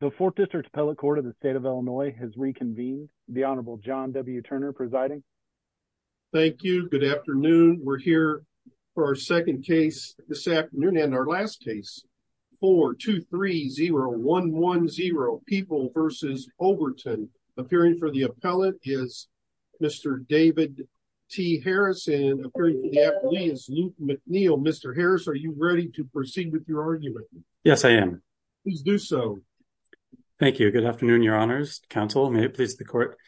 the fourth district appellate court of the state of Illinois has reconvened. The Honorable John W. Turner presiding. Thank you. Good afternoon. We're here for our second case this afternoon and our last case 4-2-3-0-1-1-0 People versus Overton. Appearing for the appellate is Mr. David T. Harris and appearing for the appellee is Luke McNeil. Mr. Harris, are you ready to do so? Thank you. Good afternoon, Your Honors. Counsel, may it please the court.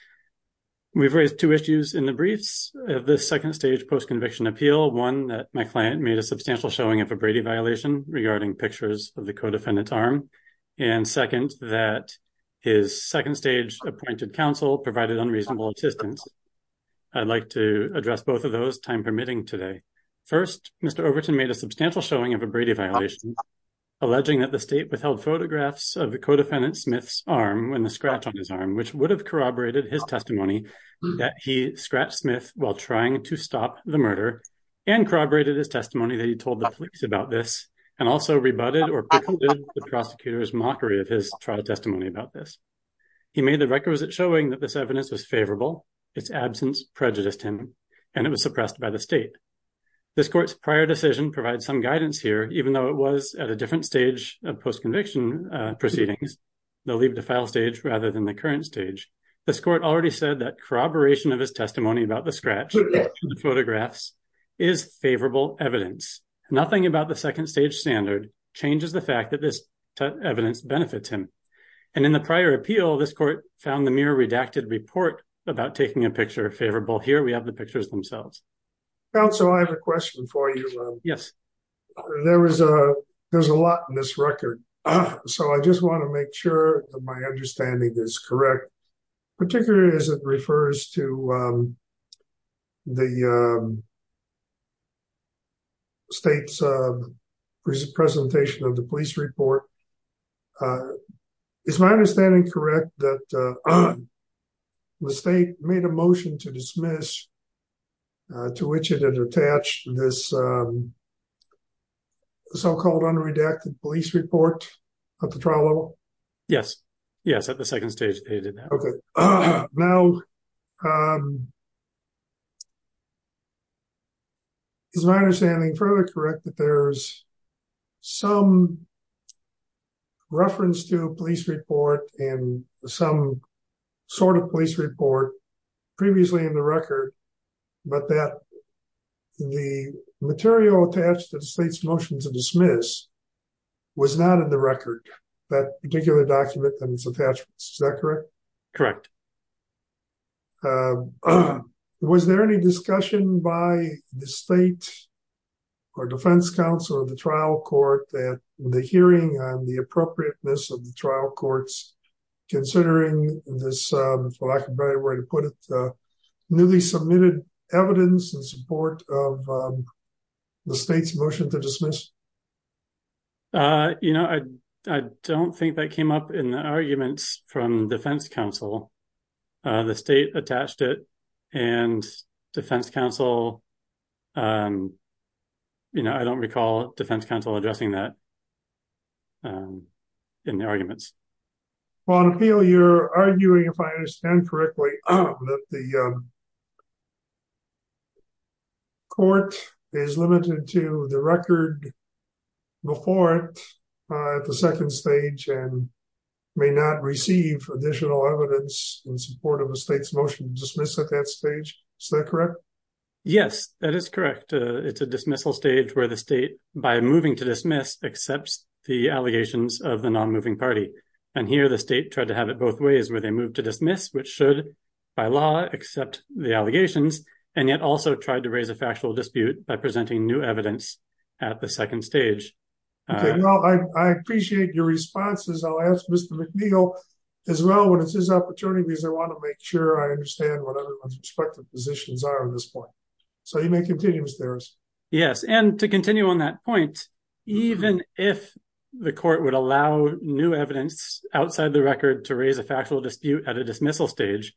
We've raised two issues in the briefs of this second stage post-conviction appeal. One, that my client made a substantial showing of a Brady violation regarding pictures of the co-defendant's arm, and second, that his second stage appointed counsel provided unreasonable assistance. I'd like to address both of those, time permitting, today. First, Mr. Overton made a substantial showing of a Brady violation, alleging that the state withheld photographs of the co-defendant Smith's arm, and the scratch on his arm, which would have corroborated his testimony that he scratched Smith while trying to stop the murder, and corroborated his testimony that he told the police about this, and also rebutted or picketed the prosecutor's mockery of his trial testimony about this. He made the records that showing that this evidence was favorable, its absence prejudiced him, and it was suppressed by the state. This court's prior decision provides some guidance here, even though it was at a different stage of post-conviction proceedings, the leave to file stage, rather than the current stage. This court already said that corroboration of his testimony about the scratch in the photographs is favorable evidence. Nothing about the second stage standard changes the fact that this evidence benefits him, and in the prior appeal, this court found the mere redacted report about taking a picture favorable. Here we have the pictures themselves. Counsel, I have a question for you. Yes. There's a lot in this record, so I just want to make sure that my understanding is correct, particularly as it refers to the state's presentation of the police report. Is my understanding correct that the state made a motion to dismiss, to which it had attached this so-called unredacted police report at the trial level? Yes. Yes, at the second stage. Okay. Now, is my understanding fairly correct that there's some reference to a police report and some sort of police report previously in the record, but that the material attached to the state's motion to dismiss was not in the record, that particular document and its attachments. Is that correct? Is it fair to state or defense counsel of the trial court that the hearing on the appropriateness of the trial courts, considering this, for lack of a better way to put it, newly submitted evidence in support of the state's motion to dismiss? You know, I don't think that came up in the arguments from defense counsel. The state attached it, and defense counsel, you know, I don't recall defense counsel addressing that in the arguments. Juan Peel, you're arguing, if I understand correctly, that the additional evidence in support of the state's motion to dismiss at that stage. Is that correct? Yes, that is correct. It's a dismissal stage where the state, by moving to dismiss, accepts the allegations of the non-moving party. And here, the state tried to have it both ways, where they moved to dismiss, which should, by law, accept the allegations, and yet also tried to raise a factual dispute by presenting new evidence at the second stage. Okay. Now, I as well, when it's his opportunity, because I want to make sure I understand what everyone's respective positions are at this point. So, you may continue, Mr. Harris. Yes, and to continue on that point, even if the court would allow new evidence outside the record to raise a factual dispute at a dismissal stage,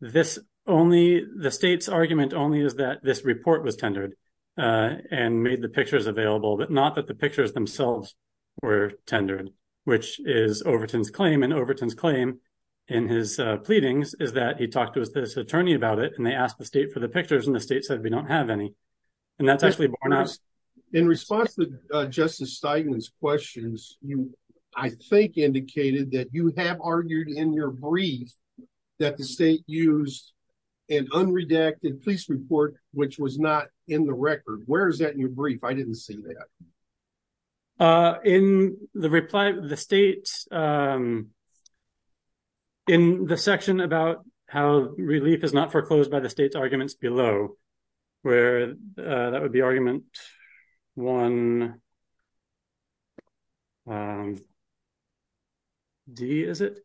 this only, the state's argument only is that this report was tendered and made the pictures available, but not that the pictures themselves were tendered, which is Overton's claim. And Overton's claim in his pleadings is that he talked to this attorney about it, and they asked the state for the pictures, and the state said, we don't have any. And that's actually borne out. In response to Justice Steinman's questions, you, I think, indicated that you have argued in your brief that the state used an unredacted police report, which was not in the record. Where is that in your brief? I didn't see that. In the reply, the state, in the section about how relief is not foreclosed by the state's arguments below, where that would be argument one, D, is it?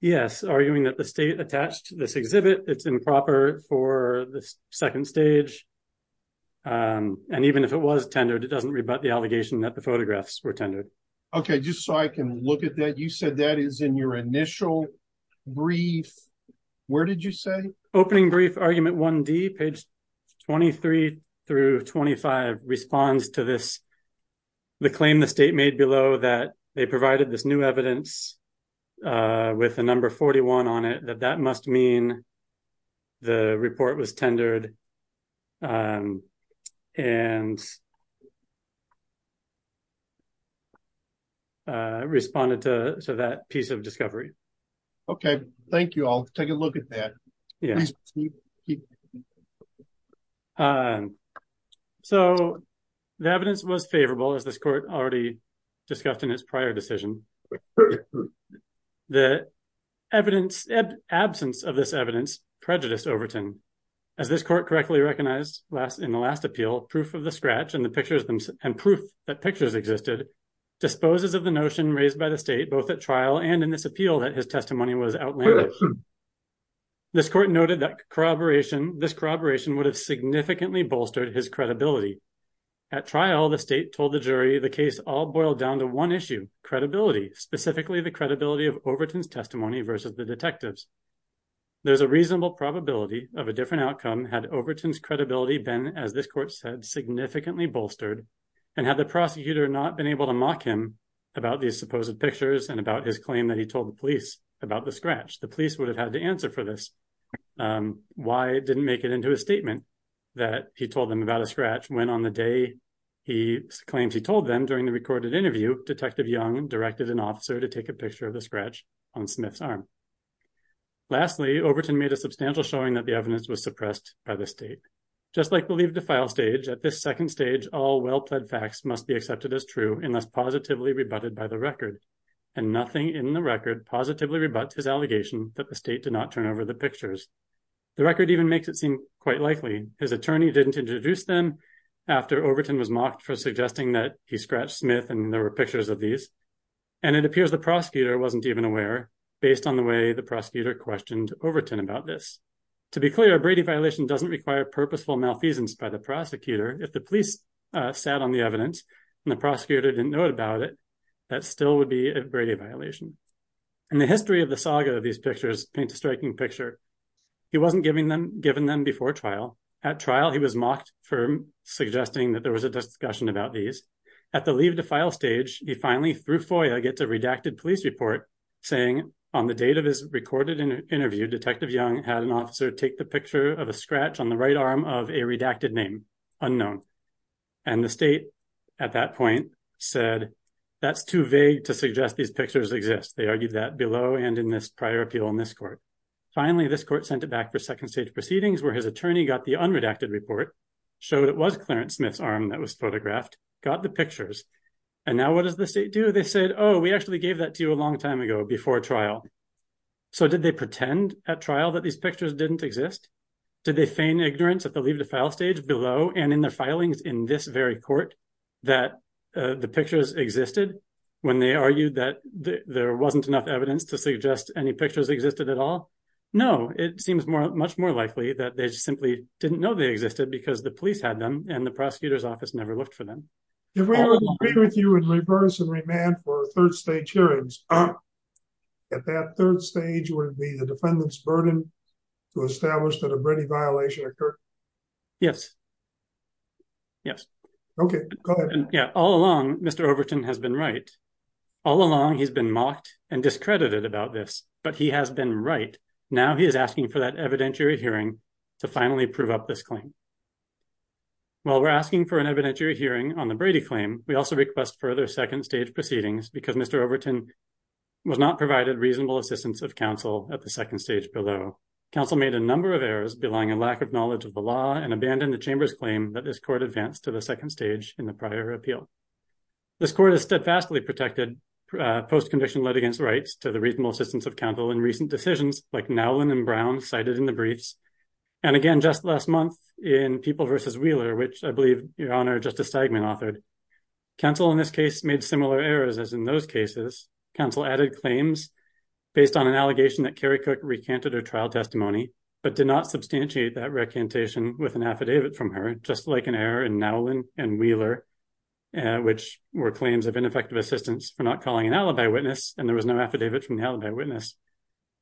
Yes, arguing that the state attached this exhibit, it's improper for the second stage, and even if it was tendered, it doesn't rebut the allegation that the photographs were tendered. Okay, just so I can look at that, you said that is in your initial brief. Where did you say? Opening brief, argument one, D, page 23 through 25, responds to this, the claim the state made below that they provided this new evidence with the number 41 on it, that must mean the report was tendered, and responded to that piece of discovery. Okay, thank you. I'll take a look at that. So the evidence was favorable, as this court already discussed in its prior decision. The absence of this evidence prejudiced Overton. As this court correctly recognized in the last appeal, proof of the scratch and proof that pictures existed, disposes of the notion raised by the state both at trial and in this appeal that his testimony was outlandish. This court noted that this corroboration would have significantly bolstered his credibility. At trial, the state told the jury the case all boiled down to one issue, credibility, specifically the credibility of Overton's testimony versus the detective's. There's a reasonable probability of a different outcome had Overton's credibility been, as this court said, significantly bolstered, and had the prosecutor not been able to mock him about these supposed pictures and about his claim that he told the police about the scratch. The police would have had to answer for this. Why didn't make it into a statement that he told them about a scratch when, on the day he claims he told them during the recorded interview, Detective Young directed an officer to take a picture of the scratch on Smith's arm? Lastly, Overton made a substantial showing that the evidence was suppressed by the state. Just like the leave to file stage, at this second stage, all well-pled facts must be accepted as true unless positively rebutted by the record, and nothing in the record positively rebuts his allegation that the state did not turn over the pictures. The record even makes it seem quite likely his attorney didn't introduce them after Overton was mocked for suggesting that he scratched Smith and there were pictures of these, and it appears the prosecutor wasn't even aware, based on the way the prosecutor questioned Overton about this. To be clear, a Brady violation doesn't require purposeful malfeasance by the prosecutor. If the police sat on the evidence and the prosecutor didn't know about it, that still would be a Brady violation. And the history of the saga of these pictures paints a striking picture. He wasn't given them before trial. At trial, he was mocked for suggesting that there was a discussion about these. At the leave to file stage, he finally, through FOIA, gets a redacted police report saying, on the date of his recorded interview, Detective Young had an officer take the picture of a scratch on the right arm of a redacted name, unknown. And the state, at that point, said that's too vague to suggest these pictures exist. They argued that below and in this prior appeal in this court. Finally, this court sent it back for second stage proceedings, where his attorney got the unredacted report, showed it was Clarence Smith's arm that was photographed, got the pictures, and now what does the state do? They said, oh, we actually gave that to you a long time ago before trial. So did they pretend at trial that these pictures didn't exist? Did they feign ignorance at the leave to file stage below and in the filings in this very court that the pictures existed when they argued that there wasn't enough evidence to suggest any pictures existed at all? No, it seems much more likely that they simply didn't know they existed because the police had them and the prosecutor's office never looked for them. If we were to agree with you and reverse and remand for third stage hearings, at that third stage would be the defendant's burden to establish that a Brady violation occurred? Yes. Yes. Okay, go ahead. Yeah, all along, Mr. Overton has been right. All along, he's been mocked and discredited about this, but he has been right. Now he is asking for that evidentiary hearing to finally prove up this claim. While we're asking for an evidentiary hearing on the Brady claim, we also request further second stage proceedings because Mr. Overton was not provided reasonable assistance of counsel at second stage below. Counsel made a number of errors, belying a lack of knowledge of the law and abandoned the chamber's claim that this court advanced to the second stage in the prior appeal. This court is steadfastly protected post-conviction litigants rights to the reasonable assistance of counsel in recent decisions like Nowlin and Brown cited in the briefs. And again, just last month in People versus Wheeler, which I believe your honor, Justice Stegman authored. Counsel in this case made similar errors as in those cases. Counsel added claims based on an allegation that Kerry Cook recanted her trial testimony, but did not substantiate that recantation with an affidavit from her, just like an error in Nowlin and Wheeler, which were claims of ineffective assistance for not calling an alibi witness, and there was no affidavit from the alibi witness.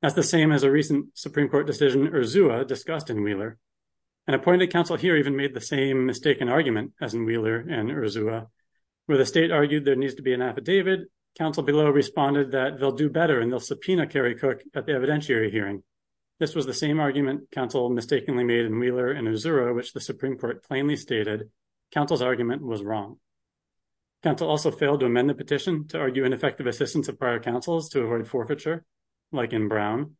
That's the same as a recent Supreme Court decision Urzua discussed in Wheeler. An appointed counsel here even made the same mistaken argument as in an affidavit. Counsel below responded that they'll do better and they'll subpoena Kerry Cook at the evidentiary hearing. This was the same argument counsel mistakenly made in Wheeler and Urzua, which the Supreme Court plainly stated counsel's argument was wrong. Counsel also failed to amend the petition to argue ineffective assistance of prior counsels to avoid forfeiture, like in Brown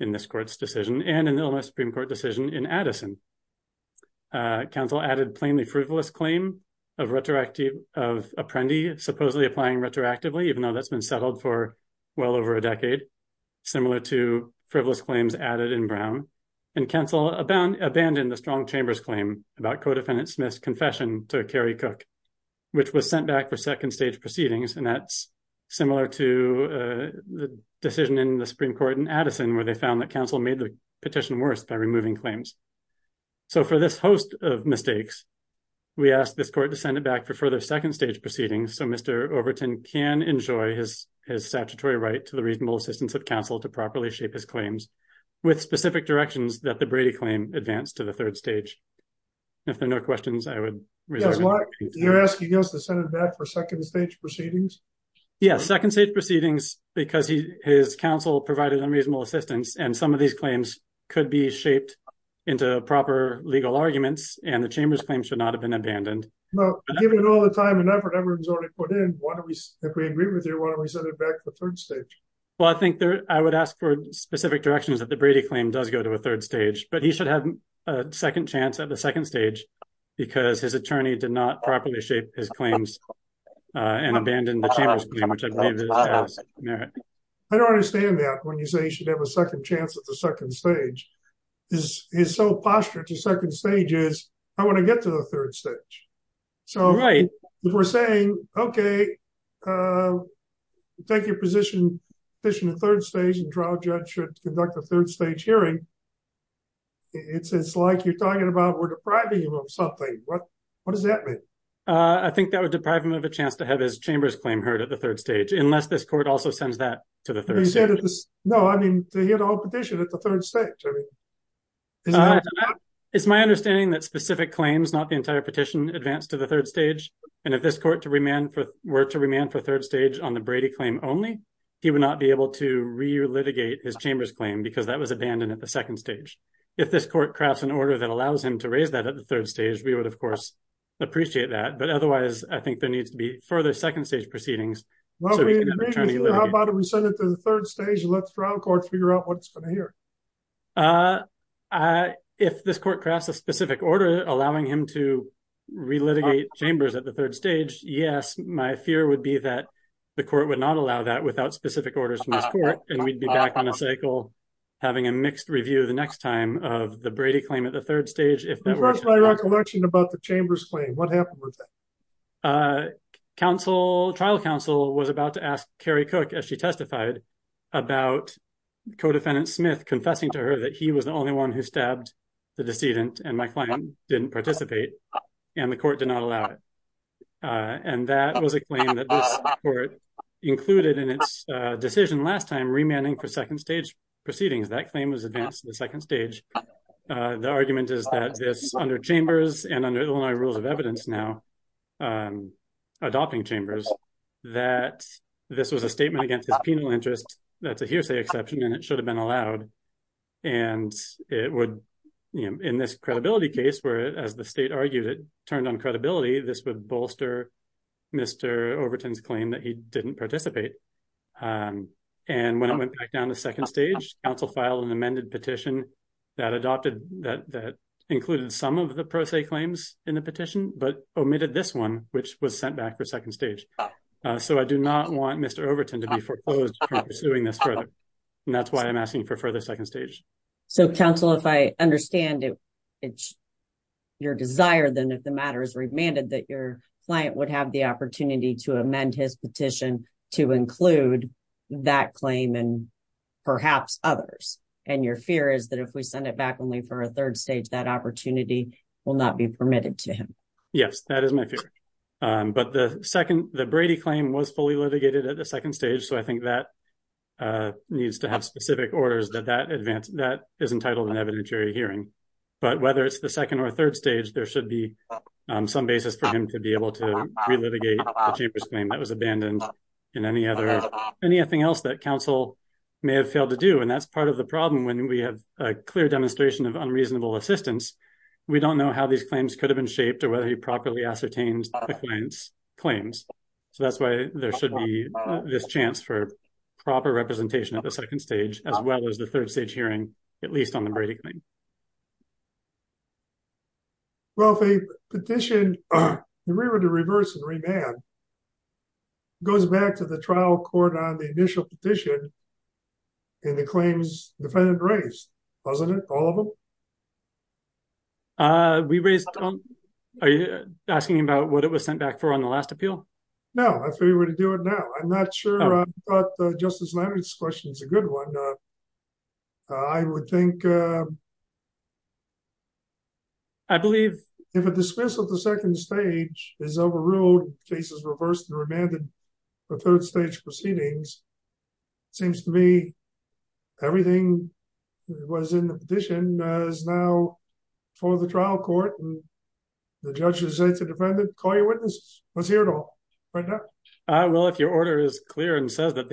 in this court's decision and in the Supreme Court decision in Addison. Counsel added plainly frivolous claim of apprendee supposedly applying retroactively, even though that's been settled for well over a decade, similar to frivolous claims added in Brown, and counsel abandoned the strong chamber's claim about co-defendant Smith's confession to Kerry Cook, which was sent back for second stage proceedings, and that's similar to the decision in the Supreme Court in Addison, where they found that counsel made the petition worse by removing claims. So for this host of mistakes, we asked this court to send it back for further second stage proceedings so Mr. Overton can enjoy his statutory right to the reasonable assistance of counsel to properly shape his claims with specific directions that the Brady claim advanced to the third stage. If there are no questions, I would... You're asking us to send it back for second stage proceedings? Yes, second stage proceedings because his counsel provided unreasonable assistance and some of these claims could be shaped into proper legal arguments and the chamber's claim should not have been abandoned. Well, given all the time and effort everyone's already put in, why don't we, if we agree with you, why don't we send it back to the third stage? Well, I think there... I would ask for specific directions that the Brady claim does go to a third stage, but he should have a second chance at the second stage because his attorney did not properly shape his claims and abandoned the chamber's claim. I don't understand that when you say he should have a second chance at the second stage. His sole posture to second stage is, I want to get to the third stage. So if we're saying, okay, take your position in the third stage and trial judge should conduct a third stage hearing, it's like you're talking about we're depriving him of something. What does that mean? I think that would deprive him of a chance to have his chamber's claim heard at the third stage, unless this court also sends that to the third stage. No, I mean to hear the whole petition at the third stage. It's my understanding that specific claims, not the entire petition, advance to the third stage and if this court were to remand for third stage on the Brady claim only, he would not be able to re-litigate his chamber's claim because that was abandoned at the second stage. If this court crafts an order that allows him to raise that at the third stage, we would, of course, appreciate that. But otherwise, I think there needs to be further second stage proceedings. How about if we send it to the third stage and let the trial court figure out what it's going to hear? If this court crafts a specific order allowing him to re-litigate chambers at the third stage, yes, my fear would be that the court would not allow that without specific orders from this court and we'd be back on a cycle having a mixed review the third stage. The first I recollection about the chamber's claim, what happened with that? Trial counsel was about to ask Kerry Cook as she testified about co-defendant Smith confessing to her that he was the only one who stabbed the decedent and my client didn't participate and the court did not allow it. And that was a claim that this court included in its decision last time remanding for second stage proceedings. That claim was advanced to the second stage. The argument is that this under chambers and under Illinois rules of evidence now, adopting chambers, that this was a statement against his penal interest. That's a hearsay exception and it should have been allowed. And it would, you know, in this credibility case where as the state argued it turned on credibility, this would bolster Mr. Overton's claim that he didn't participate. And when it went back down to second stage, counsel filed an amended petition that included some of the pro se claims in the petition, but omitted this one, which was sent back for second stage. So I do not want Mr. Overton to be foreclosed pursuing this further. And that's why I'm asking for further second stage. So counsel, if I understand it, your desire then if the matter is remanded, that your client would have the opportunity to amend his petition to include that claim and perhaps others. And your fear is that if we send it back only for a third stage, that opportunity will not be permitted to him. Yes, that is my fear. But the second, the Brady claim was fully litigated at the second stage. So I think that needs to have specific orders that that advance that is entitled an evidentiary hearing. But whether it's the second or third stage, there should be some basis for him to be able to relitigate the chambers claim that was abandoned in any other, anything else that may have failed to do. And that's part of the problem. When we have a clear demonstration of unreasonable assistance, we don't know how these claims could have been shaped or whether he properly ascertained the client's claims. So that's why there should be this chance for proper representation at the second stage, as well as the third stage hearing, at least on the Brady claim. Well, if a petition to reverse and remand it goes back to the trial court on the initial petition and the claims defendant raised, wasn't it all of them? Uh, we raised, are you asking him about what it was sent back for on the last appeal? No, I figured we'd do it now. I'm not sure, but the Justice Leonard's question is a good one. I would think, uh, I believe if a dismissal at the second stage is overruled, case is reversed and remanded for third stage proceedings, it seems to me everything was in the petition is now for the trial court and the judge has said to the defendant, call your witnesses. Let's hear it all right now. Well, if your order is clear and says that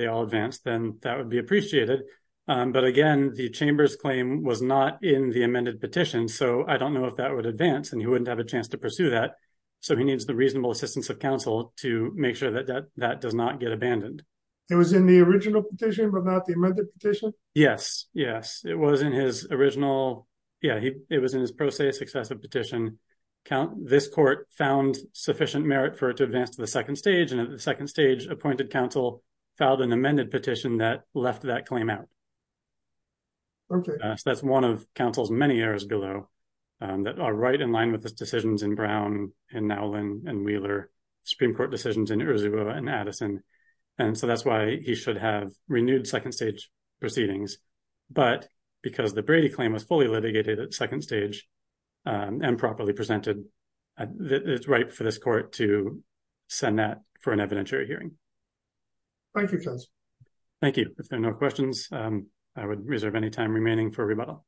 then that would be appreciated. Um, but again, the chamber's claim was not in the amended petition. So I don't know if that would advance and he wouldn't have a chance to pursue that. So he needs the reasonable assistance of counsel to make sure that that, that does not get abandoned. It was in the original petition, but not the amended petition. Yes. Yes. It was in his original. Yeah. He, it was in his process, excessive petition count. This court found sufficient merit for it to advance to the second stage. And at the second stage appointed counsel filed an amended petition that left that claim out. Okay. So that's one of counsel's many errors below, um, that are right in line with the decisions in Brown and now Lynn and Wheeler Supreme court decisions in Arizona and Addison. And so that's why he should have renewed second stage proceedings, but because the Brady claim was fully litigated at second stage, um, and properly presented, uh, it's right for this court to send that for an evidentiary hearing. Thank you. Thank you. If there are no questions, um, I would reserve any time remaining for rebuttal.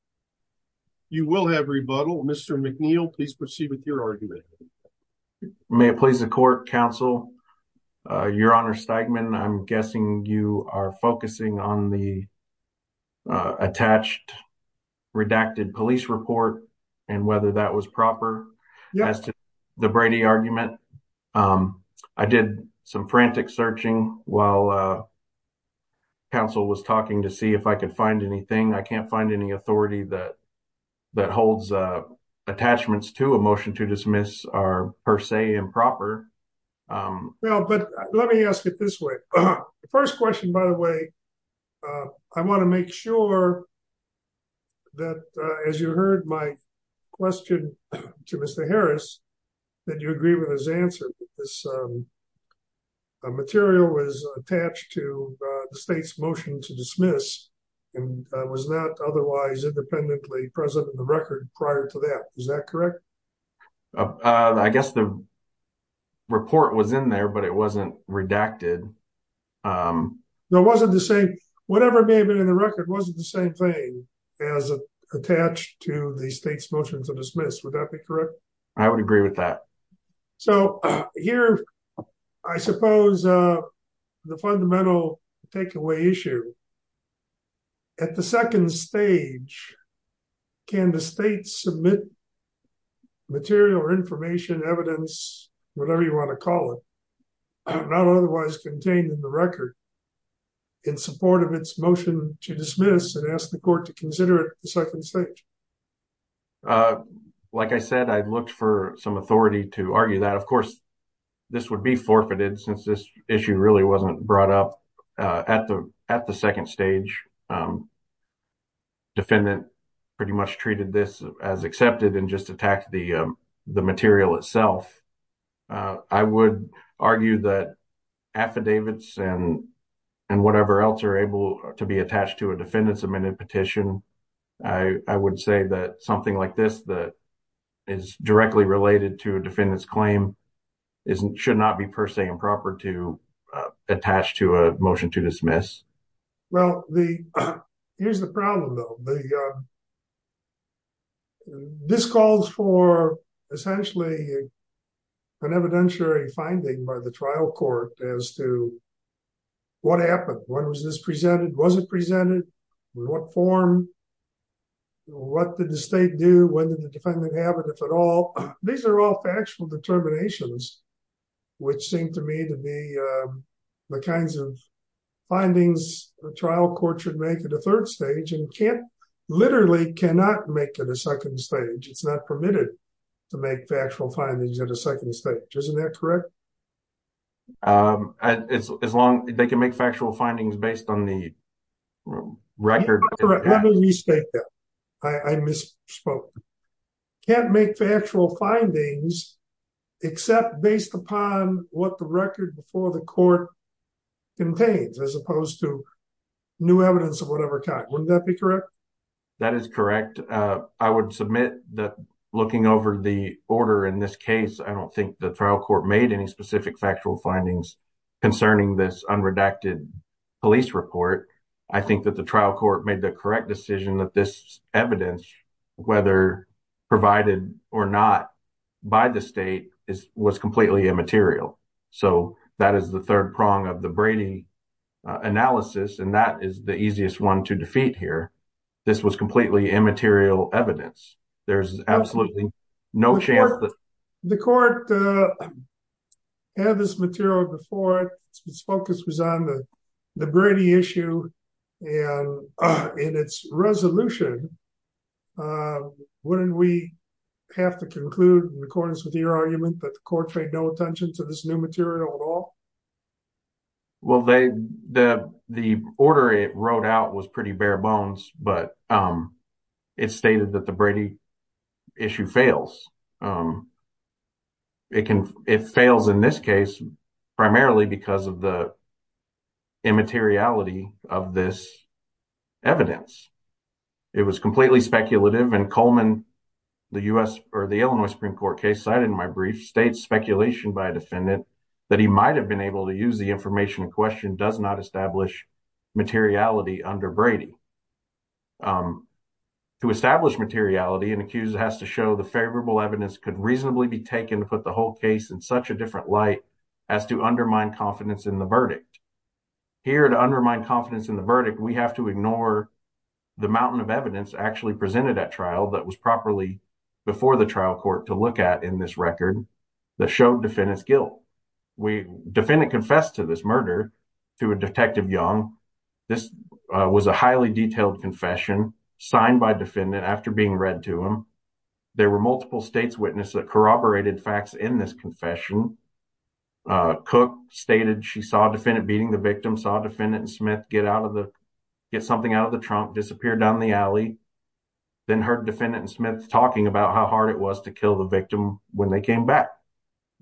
You will have rebuttal. Mr. McNeil, please proceed with your argument. May it please the court counsel, uh, your honor Stegman. I'm guessing you are focusing on the, uh, attached redacted police report and whether that was proper as to the Brady argument. Um, I did some frantic searching while, uh, counsel was talking to see if I could find anything. I can't find any authority that, that holds, uh, attachments to a motion to dismiss are per se improper. Um, well, but let me ask it this way. The first question, by the way, uh, I want to make sure that, uh, as you heard my question to Mr. Harris, did you agree with his answer? This, um, uh, material was attached to, uh, the state's motion to dismiss and, uh, was that otherwise independently present in the record prior to that? Is that correct? Uh, I guess the report was in there, but it wasn't redacted. Um, no, it wasn't the same, whatever may have been in the record, wasn't the same thing as attached to the state's motion to dismiss. Would that be correct? I would agree with that. So here, I suppose, uh, the fundamental takeaway issue at the second stage, can the state submit material or information, evidence, whatever you want to call it, not otherwise contained in the record in support of its motion to dismiss and ask the court to consider it at the second stage? Uh, like I said, I looked for some authority to argue that. Of course, this would be forfeited since this issue really wasn't brought up, uh, at the, at the second stage. Um, defendant pretty much treated this as accepted and just attacked the, um, material itself. Uh, I would argue that affidavits and, and whatever else are able to be attached to a defendant's amended petition. I, I would say that something like this, that is directly related to a defendant's claim is, should not be per se improper to, uh, attach to a motion to dismiss. Well, the, here's the problem though. The, uh, this calls for essentially an evidentiary finding by the trial court as to what happened. When was this presented? Was it presented? In what form? What did the state do? When did the defendant have it, if at all? These are all factual determinations, which seem to me to be, uh, the kinds of findings the trial court should make at the third stage and can't, literally cannot make it a second stage. It's not permitted to make factual findings at a second stage. Isn't that correct? Um, as long as they can make factual findings based on the record. I misspoke. Can't make factual findings except based upon what the record before the court contains, as opposed to new evidence of whatever kind. Wouldn't that be correct? That is correct. Uh, I would submit that looking over the order in this case, I don't think the trial court made any specific factual findings concerning this unredacted police report. I think that the trial court made the correct decision that this evidence, whether provided or not by the state is, was completely immaterial. So that is the third prong of the Brady analysis. And that is the easiest one to defeat here. This was completely immaterial evidence. There's absolutely no chance that... The court, uh, had this material before it. Its focus was on the Brady issue and, uh, in its resolution. Uh, wouldn't we have to conclude in accordance with your argument that the court paid no attention to this new material at all? Well, they, the, the order it wrote out was pretty bare bones, but, um, it stated that the Brady issue fails. Um, it can, it fails in this case primarily because of the immateriality of this evidence. It was completely speculative and Coleman, the U.S. or the Illinois Supreme Court case cited in my brief states speculation by a defendant that he might've been able to use the information in question does not establish materiality under Brady. Um, to establish materiality, an accused has to show the favorable evidence could reasonably be taken to put the whole case in such a different light as to undermine confidence in the verdict. Here to undermine confidence in the verdict, we have to ignore the mountain of evidence actually presented at trial that was properly before the trial court to look at in this record that showed defendant's guilt. We, defendant confessed to this murder through a Detective Young. This, uh, was a highly detailed confession signed by defendant after being read to him. There were multiple states witness that corroborated facts in this confession. Uh, Cook stated she saw defendant beating the victim, saw defendant and Smith get out of the, get something out of the trunk, disappeared down the alley, then heard defendant and Smith talking about how hard it was to kill the victim when they came back.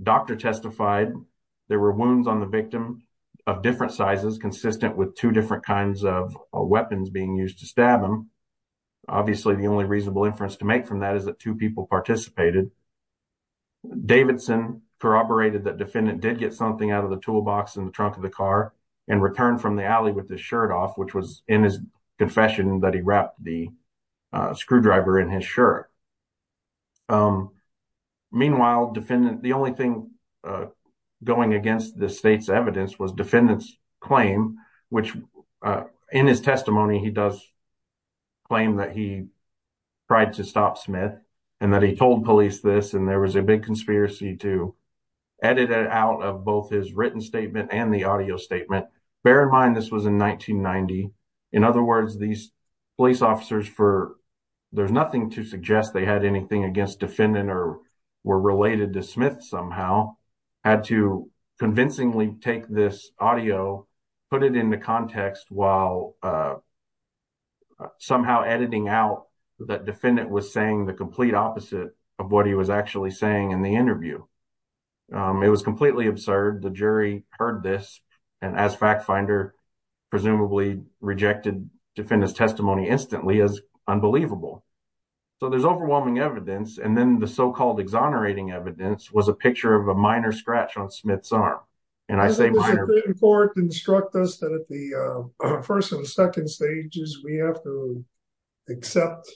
Doctor testified there were wounds on the victim of different sizes, consistent with two different kinds of weapons being used to stab him. Obviously, the only reasonable inference to make from that is that two people participated. Davidson corroborated that defendant did get something out of the toolbox in the trunk of the car and returned from the alley with the shirt off, which was in his confession that he wrapped the screwdriver in his shirt. Um, meanwhile, defendant, the only thing, uh, going against the state's evidence was defendants claim, which, uh, in his testimony, he does claim that he tried to stop Smith and that told police this. And there was a big conspiracy to edit it out of both his written statement and the audio statement. Bear in mind, this was in 1990. In other words, these police officers for, there's nothing to suggest they had anything against defendant or were related to Smith. Somehow had to convincingly take this audio, put it into context while, uh, somehow editing out that defendant was saying the complete opposite of what he was actually saying in the interview. Um, it was completely absurd. The jury heard this and as fact finder presumably rejected defendants testimony instantly as unbelievable. So there's overwhelming evidence. And then the so-called exonerating evidence was a picture of a minor scratch on Smith's arm. And I say instruct us that at the first and second stages, we have to accept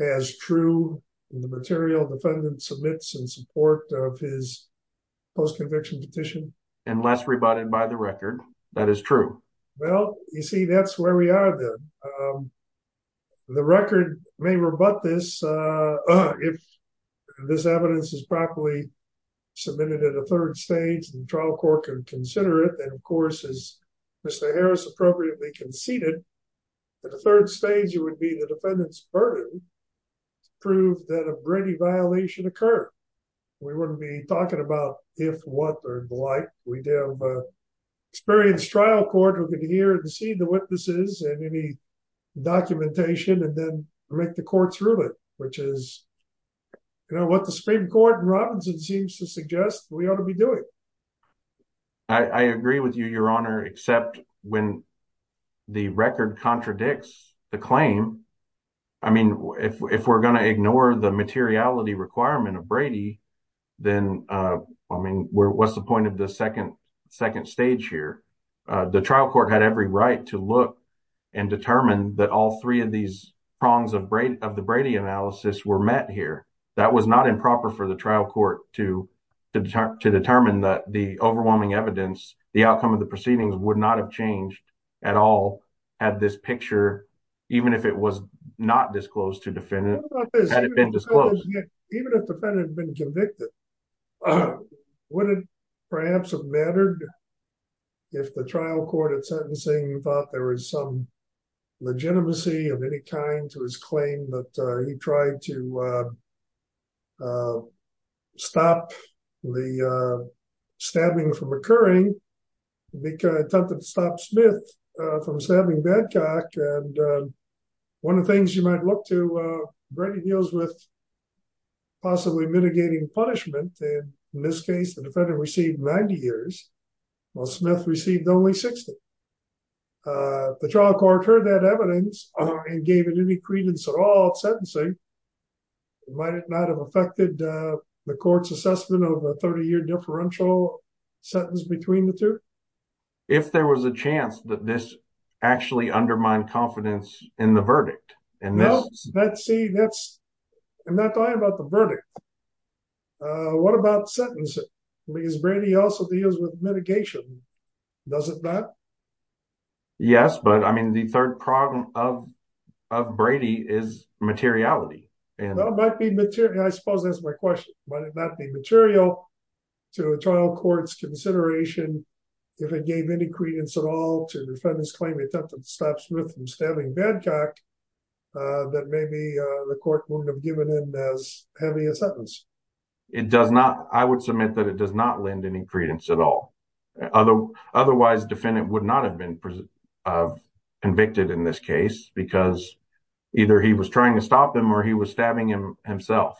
as true the material defendant submits in support of his post-conviction petition and less rebutted by the record. That is true. Well, you see, that's where we are then. Um, the record may rebut this, uh, if this evidence is properly submitted at a third stage, the trial court can consider it. And of course, as Mr. Harris appropriately conceded that the third stage, it would be the defendant's burden to prove that a Brady violation occurred. We wouldn't be talking about if, what, or the like. We'd have an experienced trial court who could hear and see the witnesses and any documentation, and then make the courts which is, you know, what the Supreme Court and Robinson seems to suggest we ought to be doing. I agree with you, your honor, except when the record contradicts the claim. I mean, if we're going to ignore the materiality requirement of Brady, then, uh, I mean, where, what's the point of the second, second stage here? Uh, the trial court had every right to look and determine that all three of these prongs of Brady, of the Brady analysis were met here. That was not improper for the trial court to, to determine, to determine that the overwhelming evidence, the outcome of the proceedings would not have changed at all had this picture, even if it was not disclosed to defendant, had it been disclosed. Even if the defendant had been convicted, would it perhaps have mattered if the trial court at sentencing thought there was some legitimacy of any kind to his claim that he tried to, uh, uh, stop the, uh, stabbing from occurring, attempt to stop Smith from stabbing Madcock. And, uh, one of the things you might look to, uh, Brady deals with possibly mitigating punishment. And in this case, the defendant received 90 years while Smith received only 60. Uh, the trial court heard that evidence and gave it any credence at all at sentencing. It might not have affected, uh, the court's assessment of a 30 year differential sentence between the two. If there was a chance that this actually undermined confidence in the verdict. Uh, what about sentencing? I mean, is Brady also deals with mitigation? Does it not? Yes, but I mean, the third problem of, of Brady is materiality. And that might be material. I suppose that's my question. Might it not be material to a trial court's consideration, if it gave any credence at all to the defendant's claim, attempted to stop Smith from stabbing Madcock, uh, that maybe, uh, the court wouldn't have given him as heavy a sentence. It does not. I would submit that it does not lend any credence at all. Other otherwise defendant would not have been, uh, convicted in this case because either he was trying to stop them or he was stabbing him himself.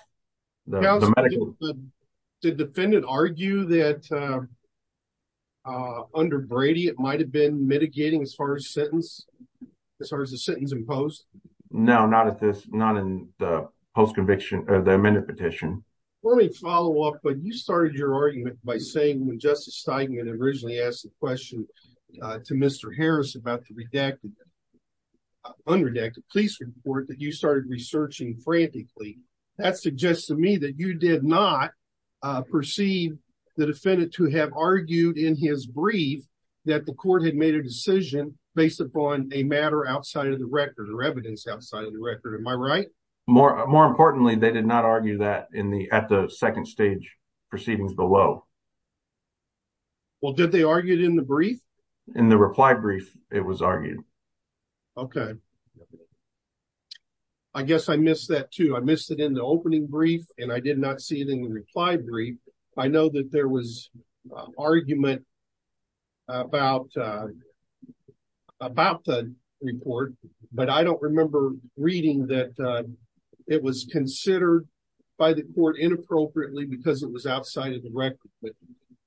The defendant argue that, uh, uh, under Brady, it might've been mitigating as far as sentence, as far as the sentence imposed. No, not at this, not in the post conviction of the amendment petition. Let me follow up. But you started your argument by saying when justice Steinman originally asked the question, uh, to Mr. Harris about the redacted, unredacted police report that you did not, uh, proceed the defendant to have argued in his brief that the court had made a decision based upon a matter outside of the record or evidence outside of the record. Am I right? More importantly, they did not argue that in the, at the second stage proceedings below. Well, did they argue it in the brief? In the reply brief, it was argued. Okay. Okay. I guess I missed that too. I missed it in the opening brief and I did not see it in the reply brief. I know that there was an argument about, uh, about the report, but I don't remember reading that, uh, it was considered by the court inappropriately because it was outside of the record, but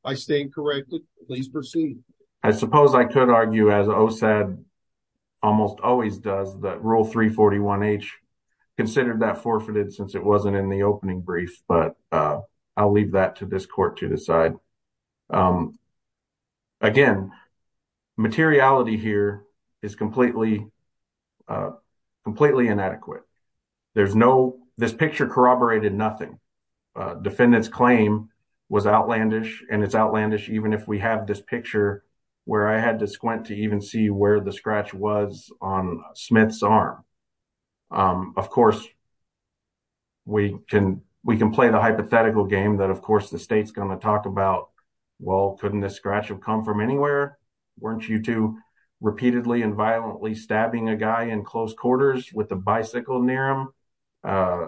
I stand corrected. Please proceed. I suppose I could argue as OSAD almost always does that rule three 41 H considered that forfeited since it wasn't in the opening brief, but, uh, I'll leave that to this court to decide. Um, again, materiality here is completely, uh, completely inadequate. There's no, this picture corroborated nothing. Uh, defendant's claim was outlandish and it's outlandish. Even if we have this picture where I had to squint to even see where the scratch was on Smith's arm. Um, of course we can, we can play the hypothetical game that of course the state's going to talk about, well, couldn't this scratch have come from anywhere? Weren't you two repeatedly and violently stabbing a guy in close quarters with a bicycle near him? Uh,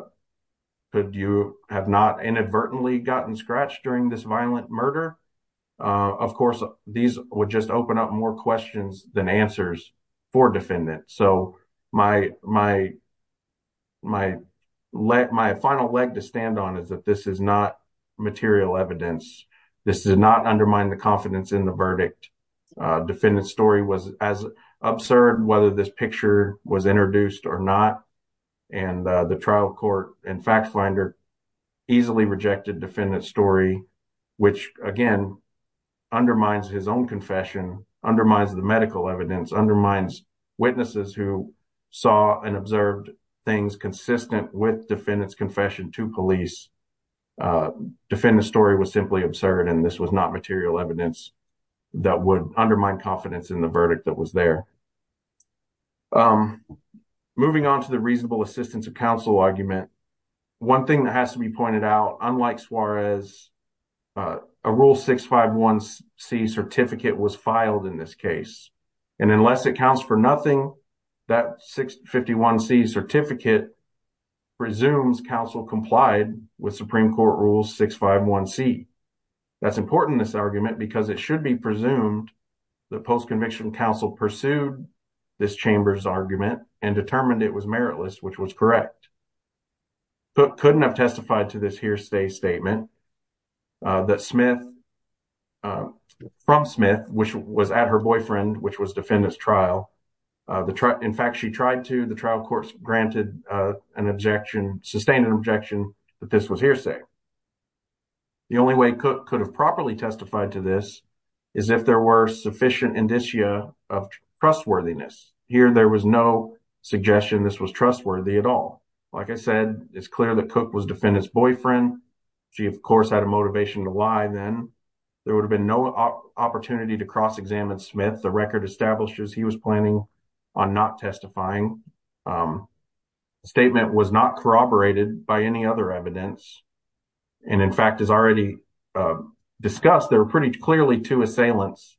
could you have not gotten scratched during this violent murder? Uh, of course these would just open up more questions than answers for defendants. So my, my, my leg, my final leg to stand on is that this is not material evidence. This does not undermine the confidence in the verdict. Uh, defendant's story was as absurd, whether this picture was introduced or not. And, uh, the trial court and fact finder easily rejected defendant's story, which again undermines his own confession, undermines the medical evidence, undermines witnesses who saw and observed things consistent with defendant's confession to police. Uh, defendant's story was simply absurd and this was not material evidence that would undermine confidence in the verdict that was there. Um, moving on to the reasonable assistance of counsel argument. One thing that has to be pointed out, unlike Suarez, uh, a rule 651C certificate was filed in this case. And unless it counts for nothing, that 651C certificate presumes counsel complied with Supreme Court rules 651C. That's important in this argument because it should be presumed that post-conviction counsel pursued this chamber's argument and determined it was meritless, which was correct. Cook couldn't have testified to this hearsay statement, uh, that Smith, uh, from Smith, which was at her boyfriend, which was defendant's trial, uh, the trial, in fact, she tried to, the trial court granted, uh, an objection, sustained an objection that this was hearsay. The only way Cook could have properly testified to this is if there were sufficient indicia of trustworthiness. Here, there was no suggestion this was trustworthy at all. Like I said, it's clear that Cook was defendant's boyfriend. She, of course, had a motivation to lie then. There would have been no opportunity to cross-examine Smith. The record establishes he was planning on not testifying. Um, the statement was not corroborated by any other evidence. And in fact, as already, uh, discussed, there were pretty clearly two assailants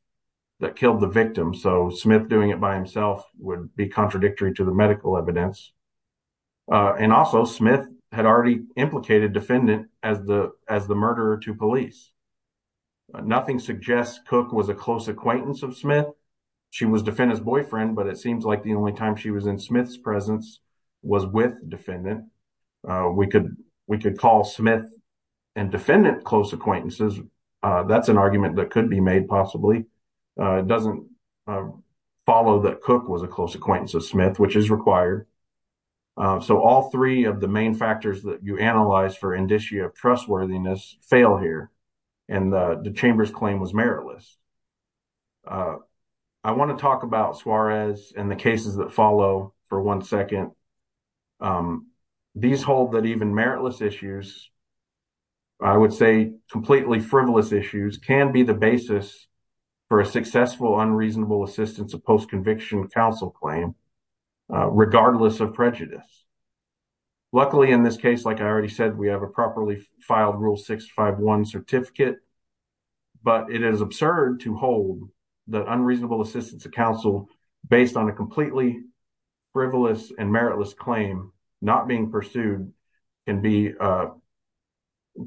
that killed the victim. So Smith doing it by himself would be contradictory to the medical evidence. Uh, and also Smith had already implicated defendant as the, as the murderer to police. Nothing suggests Cook was a close acquaintance of Smith. She was defendant's boyfriend, but it seems like the only time she was in Smith's presence was with defendant. Uh, we could, we could call Smith and defendant close acquaintances. Uh, that's an argument that could be made possibly. Uh, it doesn't follow that Cook was a close acquaintance of Smith, which is required. Uh, so all three of the main factors that you analyze for indicia of trustworthiness fail here. And, uh, the Chamber's claim was meritless. Uh, I want to talk about meritless issues. I would say completely frivolous issues can be the basis for a successful unreasonable assistance of post-conviction counsel claim, uh, regardless of prejudice. Luckily in this case, like I already said, we have a properly filed rule 651 certificate, but it is absurd to hold the unreasonable assistance of counsel based on a completely frivolous and meritless claim not being pursued can be, uh,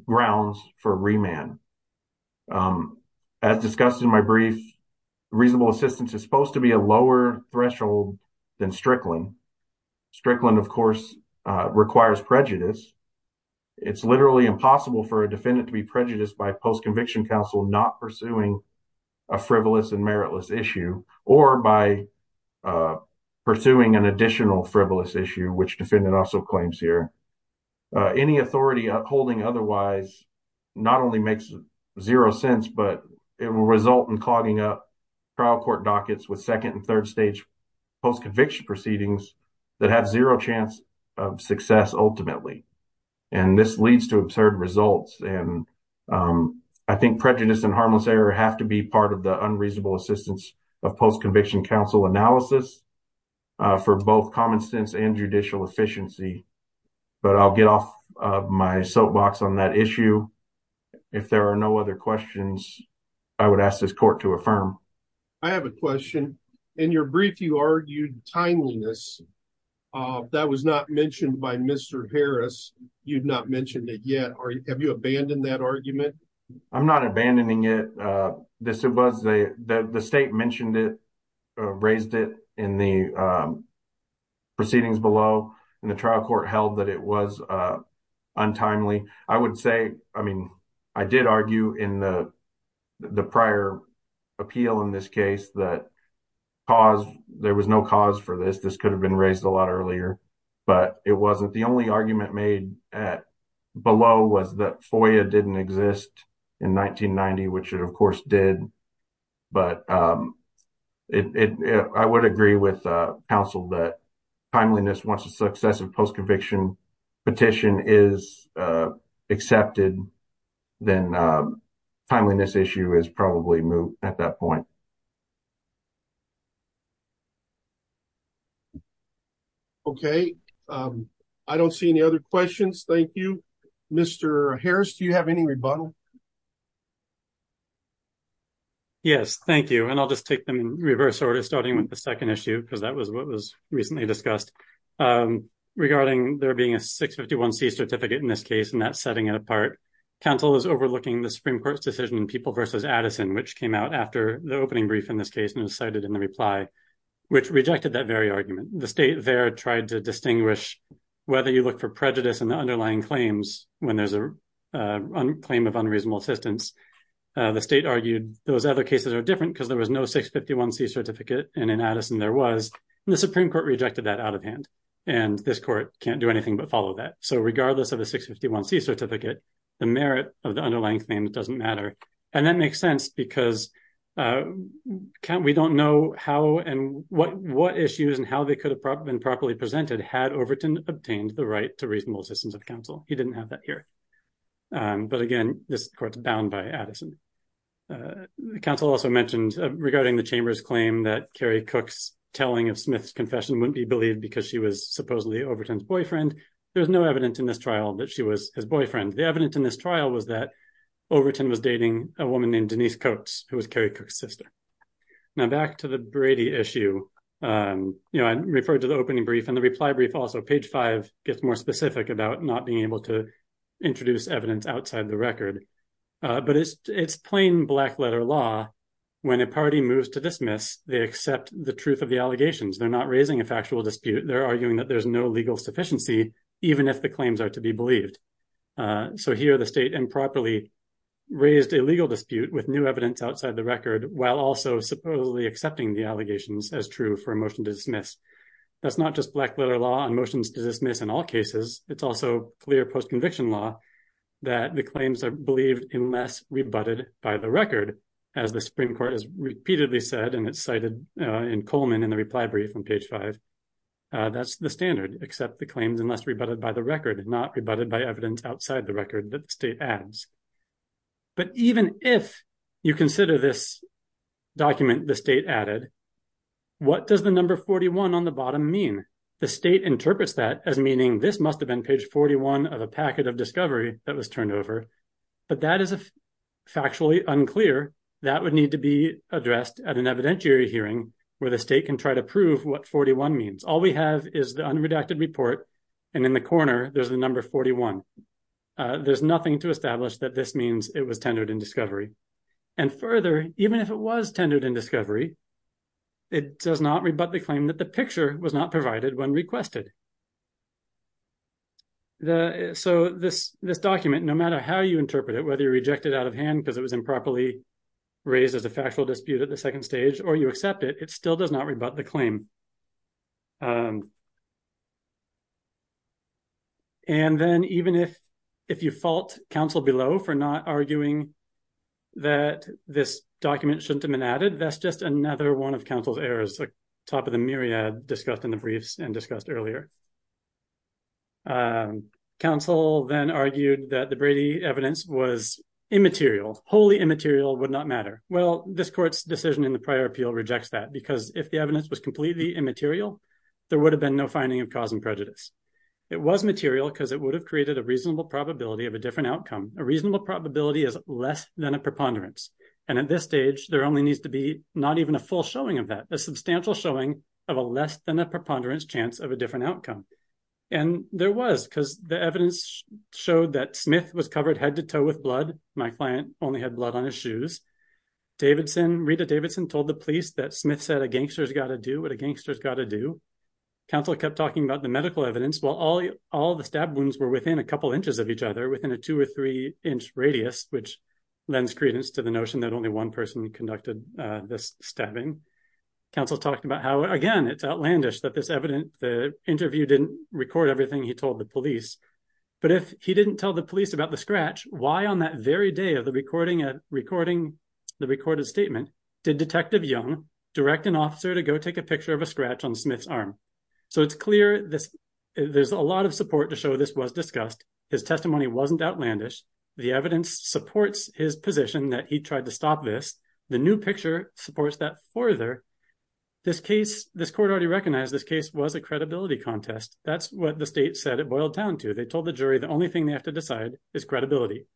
grounds for remand. Um, as discussed in my brief, reasonable assistance is supposed to be a lower threshold than Strickland. Strickland of course, uh, requires prejudice. It's literally impossible for a defendant to be prejudiced by post-conviction counsel, not pursuing a frivolous and meritless issue or by, uh, pursuing an additional frivolous issue, which defendant also claims here, uh, any authority upholding otherwise not only makes zero sense, but it will result in clogging up trial court dockets with second and third stage post-conviction proceedings that have zero chance of success ultimately. And this leads to absurd results. And, um, I think prejudice and harmless have to be part of the unreasonable assistance of post-conviction counsel analysis, uh, for both common sense and judicial efficiency, but I'll get off of my soapbox on that issue. If there are no other questions, I would ask this court to affirm. I have a question. In your brief, you argued timeliness, uh, that was not mentioned by Mr. Harris. You'd not mentioned it yet. Are you, have you abandoned that argument? I'm not abandoning it. Uh, this was a, the state mentioned it, uh, raised it in the, um, proceedings below and the trial court held that it was, uh, untimely. I would say, I mean, I did argue in the, the prior appeal in this case that cause there was no cause for this. This could have been raised a lot earlier, but it wasn't the only argument made at below was that it didn't exist in 1990, which it of course did. But, um, it, it, I would agree with, uh, counsel that timeliness wants a successive post-conviction petition is, uh, accepted then, uh, timeliness issue is probably moved at that point. Okay. Um, I don't see any other questions. Thank you, Mr. Harris. Do you have any rebuttal? Yes, thank you. And I'll just take them in reverse order, starting with the second issue, because that was what was recently discussed, um, regarding there being a 651 C certificate in this case, and that's setting it apart. Counsel is overlooking the Supreme court's decision in people versus Addison, which came out after the opening brief in this case, and it was cited in the reply, which rejected that very argument. The state there tried to distinguish whether you look for prejudice in the underlying claims when there's a, uh, claim of unreasonable assistance. Uh, the state argued those other cases are different because there was no 651 C certificate. And in Addison, there was the Supreme court rejected that out of hand and this court can't do anything but follow that. So regardless of the 651 C certificate, the merit of the underlying claim, it doesn't matter. And that makes sense because, uh, can't, we don't know how and what, what issues and how they could have been properly presented had Overton obtained the right to reasonable assistance of counsel. He didn't have that here. Um, but again, this court's bound by Addison. Uh, counsel also mentioned regarding the chamber's claim that Carrie Cook's telling of Smith's confession wouldn't be believed because she was supposedly Overton's boyfriend. There was no evidence in this trial that she was his boyfriend. The evidence in this trial was that Overton was dating a woman named Denise Coates, who was Carrie Cook's sister. Now back to the Brady issue. Um, you know, I referred to the opening brief and the reply brief also page five gets more specific about not being able to introduce evidence outside the record. Uh, but it's, it's plain black letter law. When a party moves to dismiss, they accept the truth of the allegations. They're not raising a factual dispute. They're arguing that there's no sufficiency even if the claims are to be believed. Uh, so here the state improperly raised a legal dispute with new evidence outside the record while also supposedly accepting the allegations as true for a motion to dismiss. That's not just black letter law and motions to dismiss in all cases. It's also clear post conviction law that the claims are believed in less rebutted by the record as the Supreme Court has repeatedly said, and it's cited in Coleman in the reply brief on page five. Uh, that's the standard except the claims unless rebutted by the record, not rebutted by evidence outside the record that state ads. But even if you consider this document, the state added, what does the number 41 on the bottom mean? The state interprets that as meaning this must have been page 41 of a packet of discovery that was turned over, but that is factually unclear. That would need to be addressed at an evidentiary hearing where the state can try to prove what 41 means. All we have is the unredacted report and in the corner there's the number 41. Uh, there's nothing to establish that this means it was tendered in discovery. And further, even if it was tendered in discovery, it does not rebut the claim that the picture was not provided when requested. The, so this, this document, no matter how you interpret it, whether you reject it out of hand because it was improperly raised as a factual dispute at the time. Um, and then even if, if you fault counsel below for not arguing that this document shouldn't have been added, that's just another one of counsel's errors. The top of the myriad discussed in the briefs and discussed earlier. Um, counsel then argued that the Brady evidence was immaterial, wholly immaterial would not matter. Well, this court's decision in the prior appeal rejects that because if the evidence was completely immaterial, there would have been no finding of cause and prejudice. It was material because it would have created a reasonable probability of a different outcome. A reasonable probability is less than a preponderance. And at this stage, there only needs to be not even a full showing of that, a substantial showing of a less than a preponderance chance of a different outcome. And there was, because the evidence showed that Smith was covered head to toe with blood. My client only had blood on his shoes. Davidson, Rita Davidson told the police that Smith said a gangster has got to do what a gangster has got to do. Counsel kept talking about the medical evidence while all, all the stab wounds were within a couple inches of each other within a two or three inch radius, which lends credence to the notion that only one person conducted this stabbing. Counsel talked about how, again, it's outlandish that this evidence, the interview didn't record everything he told the police, but if he didn't tell the police about the scratch, why on that very day of the recording at recording the recorded statement, did Detective Young direct an officer to go take a picture of a scratch on Smith's arm? So it's clear this, there's a lot of support to show this was discussed. His testimony wasn't outlandish. The evidence supports his position that he tried to stop this. The new picture supports that further. This case, this court already recognized this case was a credibility contest. That's what the state said it boiled down to. They told the jury the only thing they have to decide is credibility.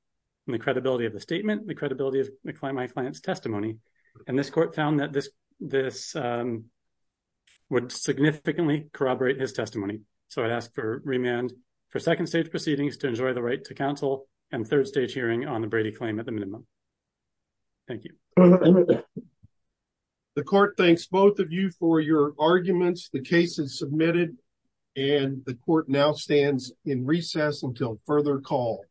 And the credibility of the statement, the credibility of my client's testimony. And this court found that this, this, um, would significantly corroborate his testimony. So I'd ask for remand for second stage proceedings to enjoy the right to counsel and third stage hearing on the Brady claim at the minimum. Thank you. The court thanks both of you for your arguments. The case is submitted and the court now stands in recess until further call.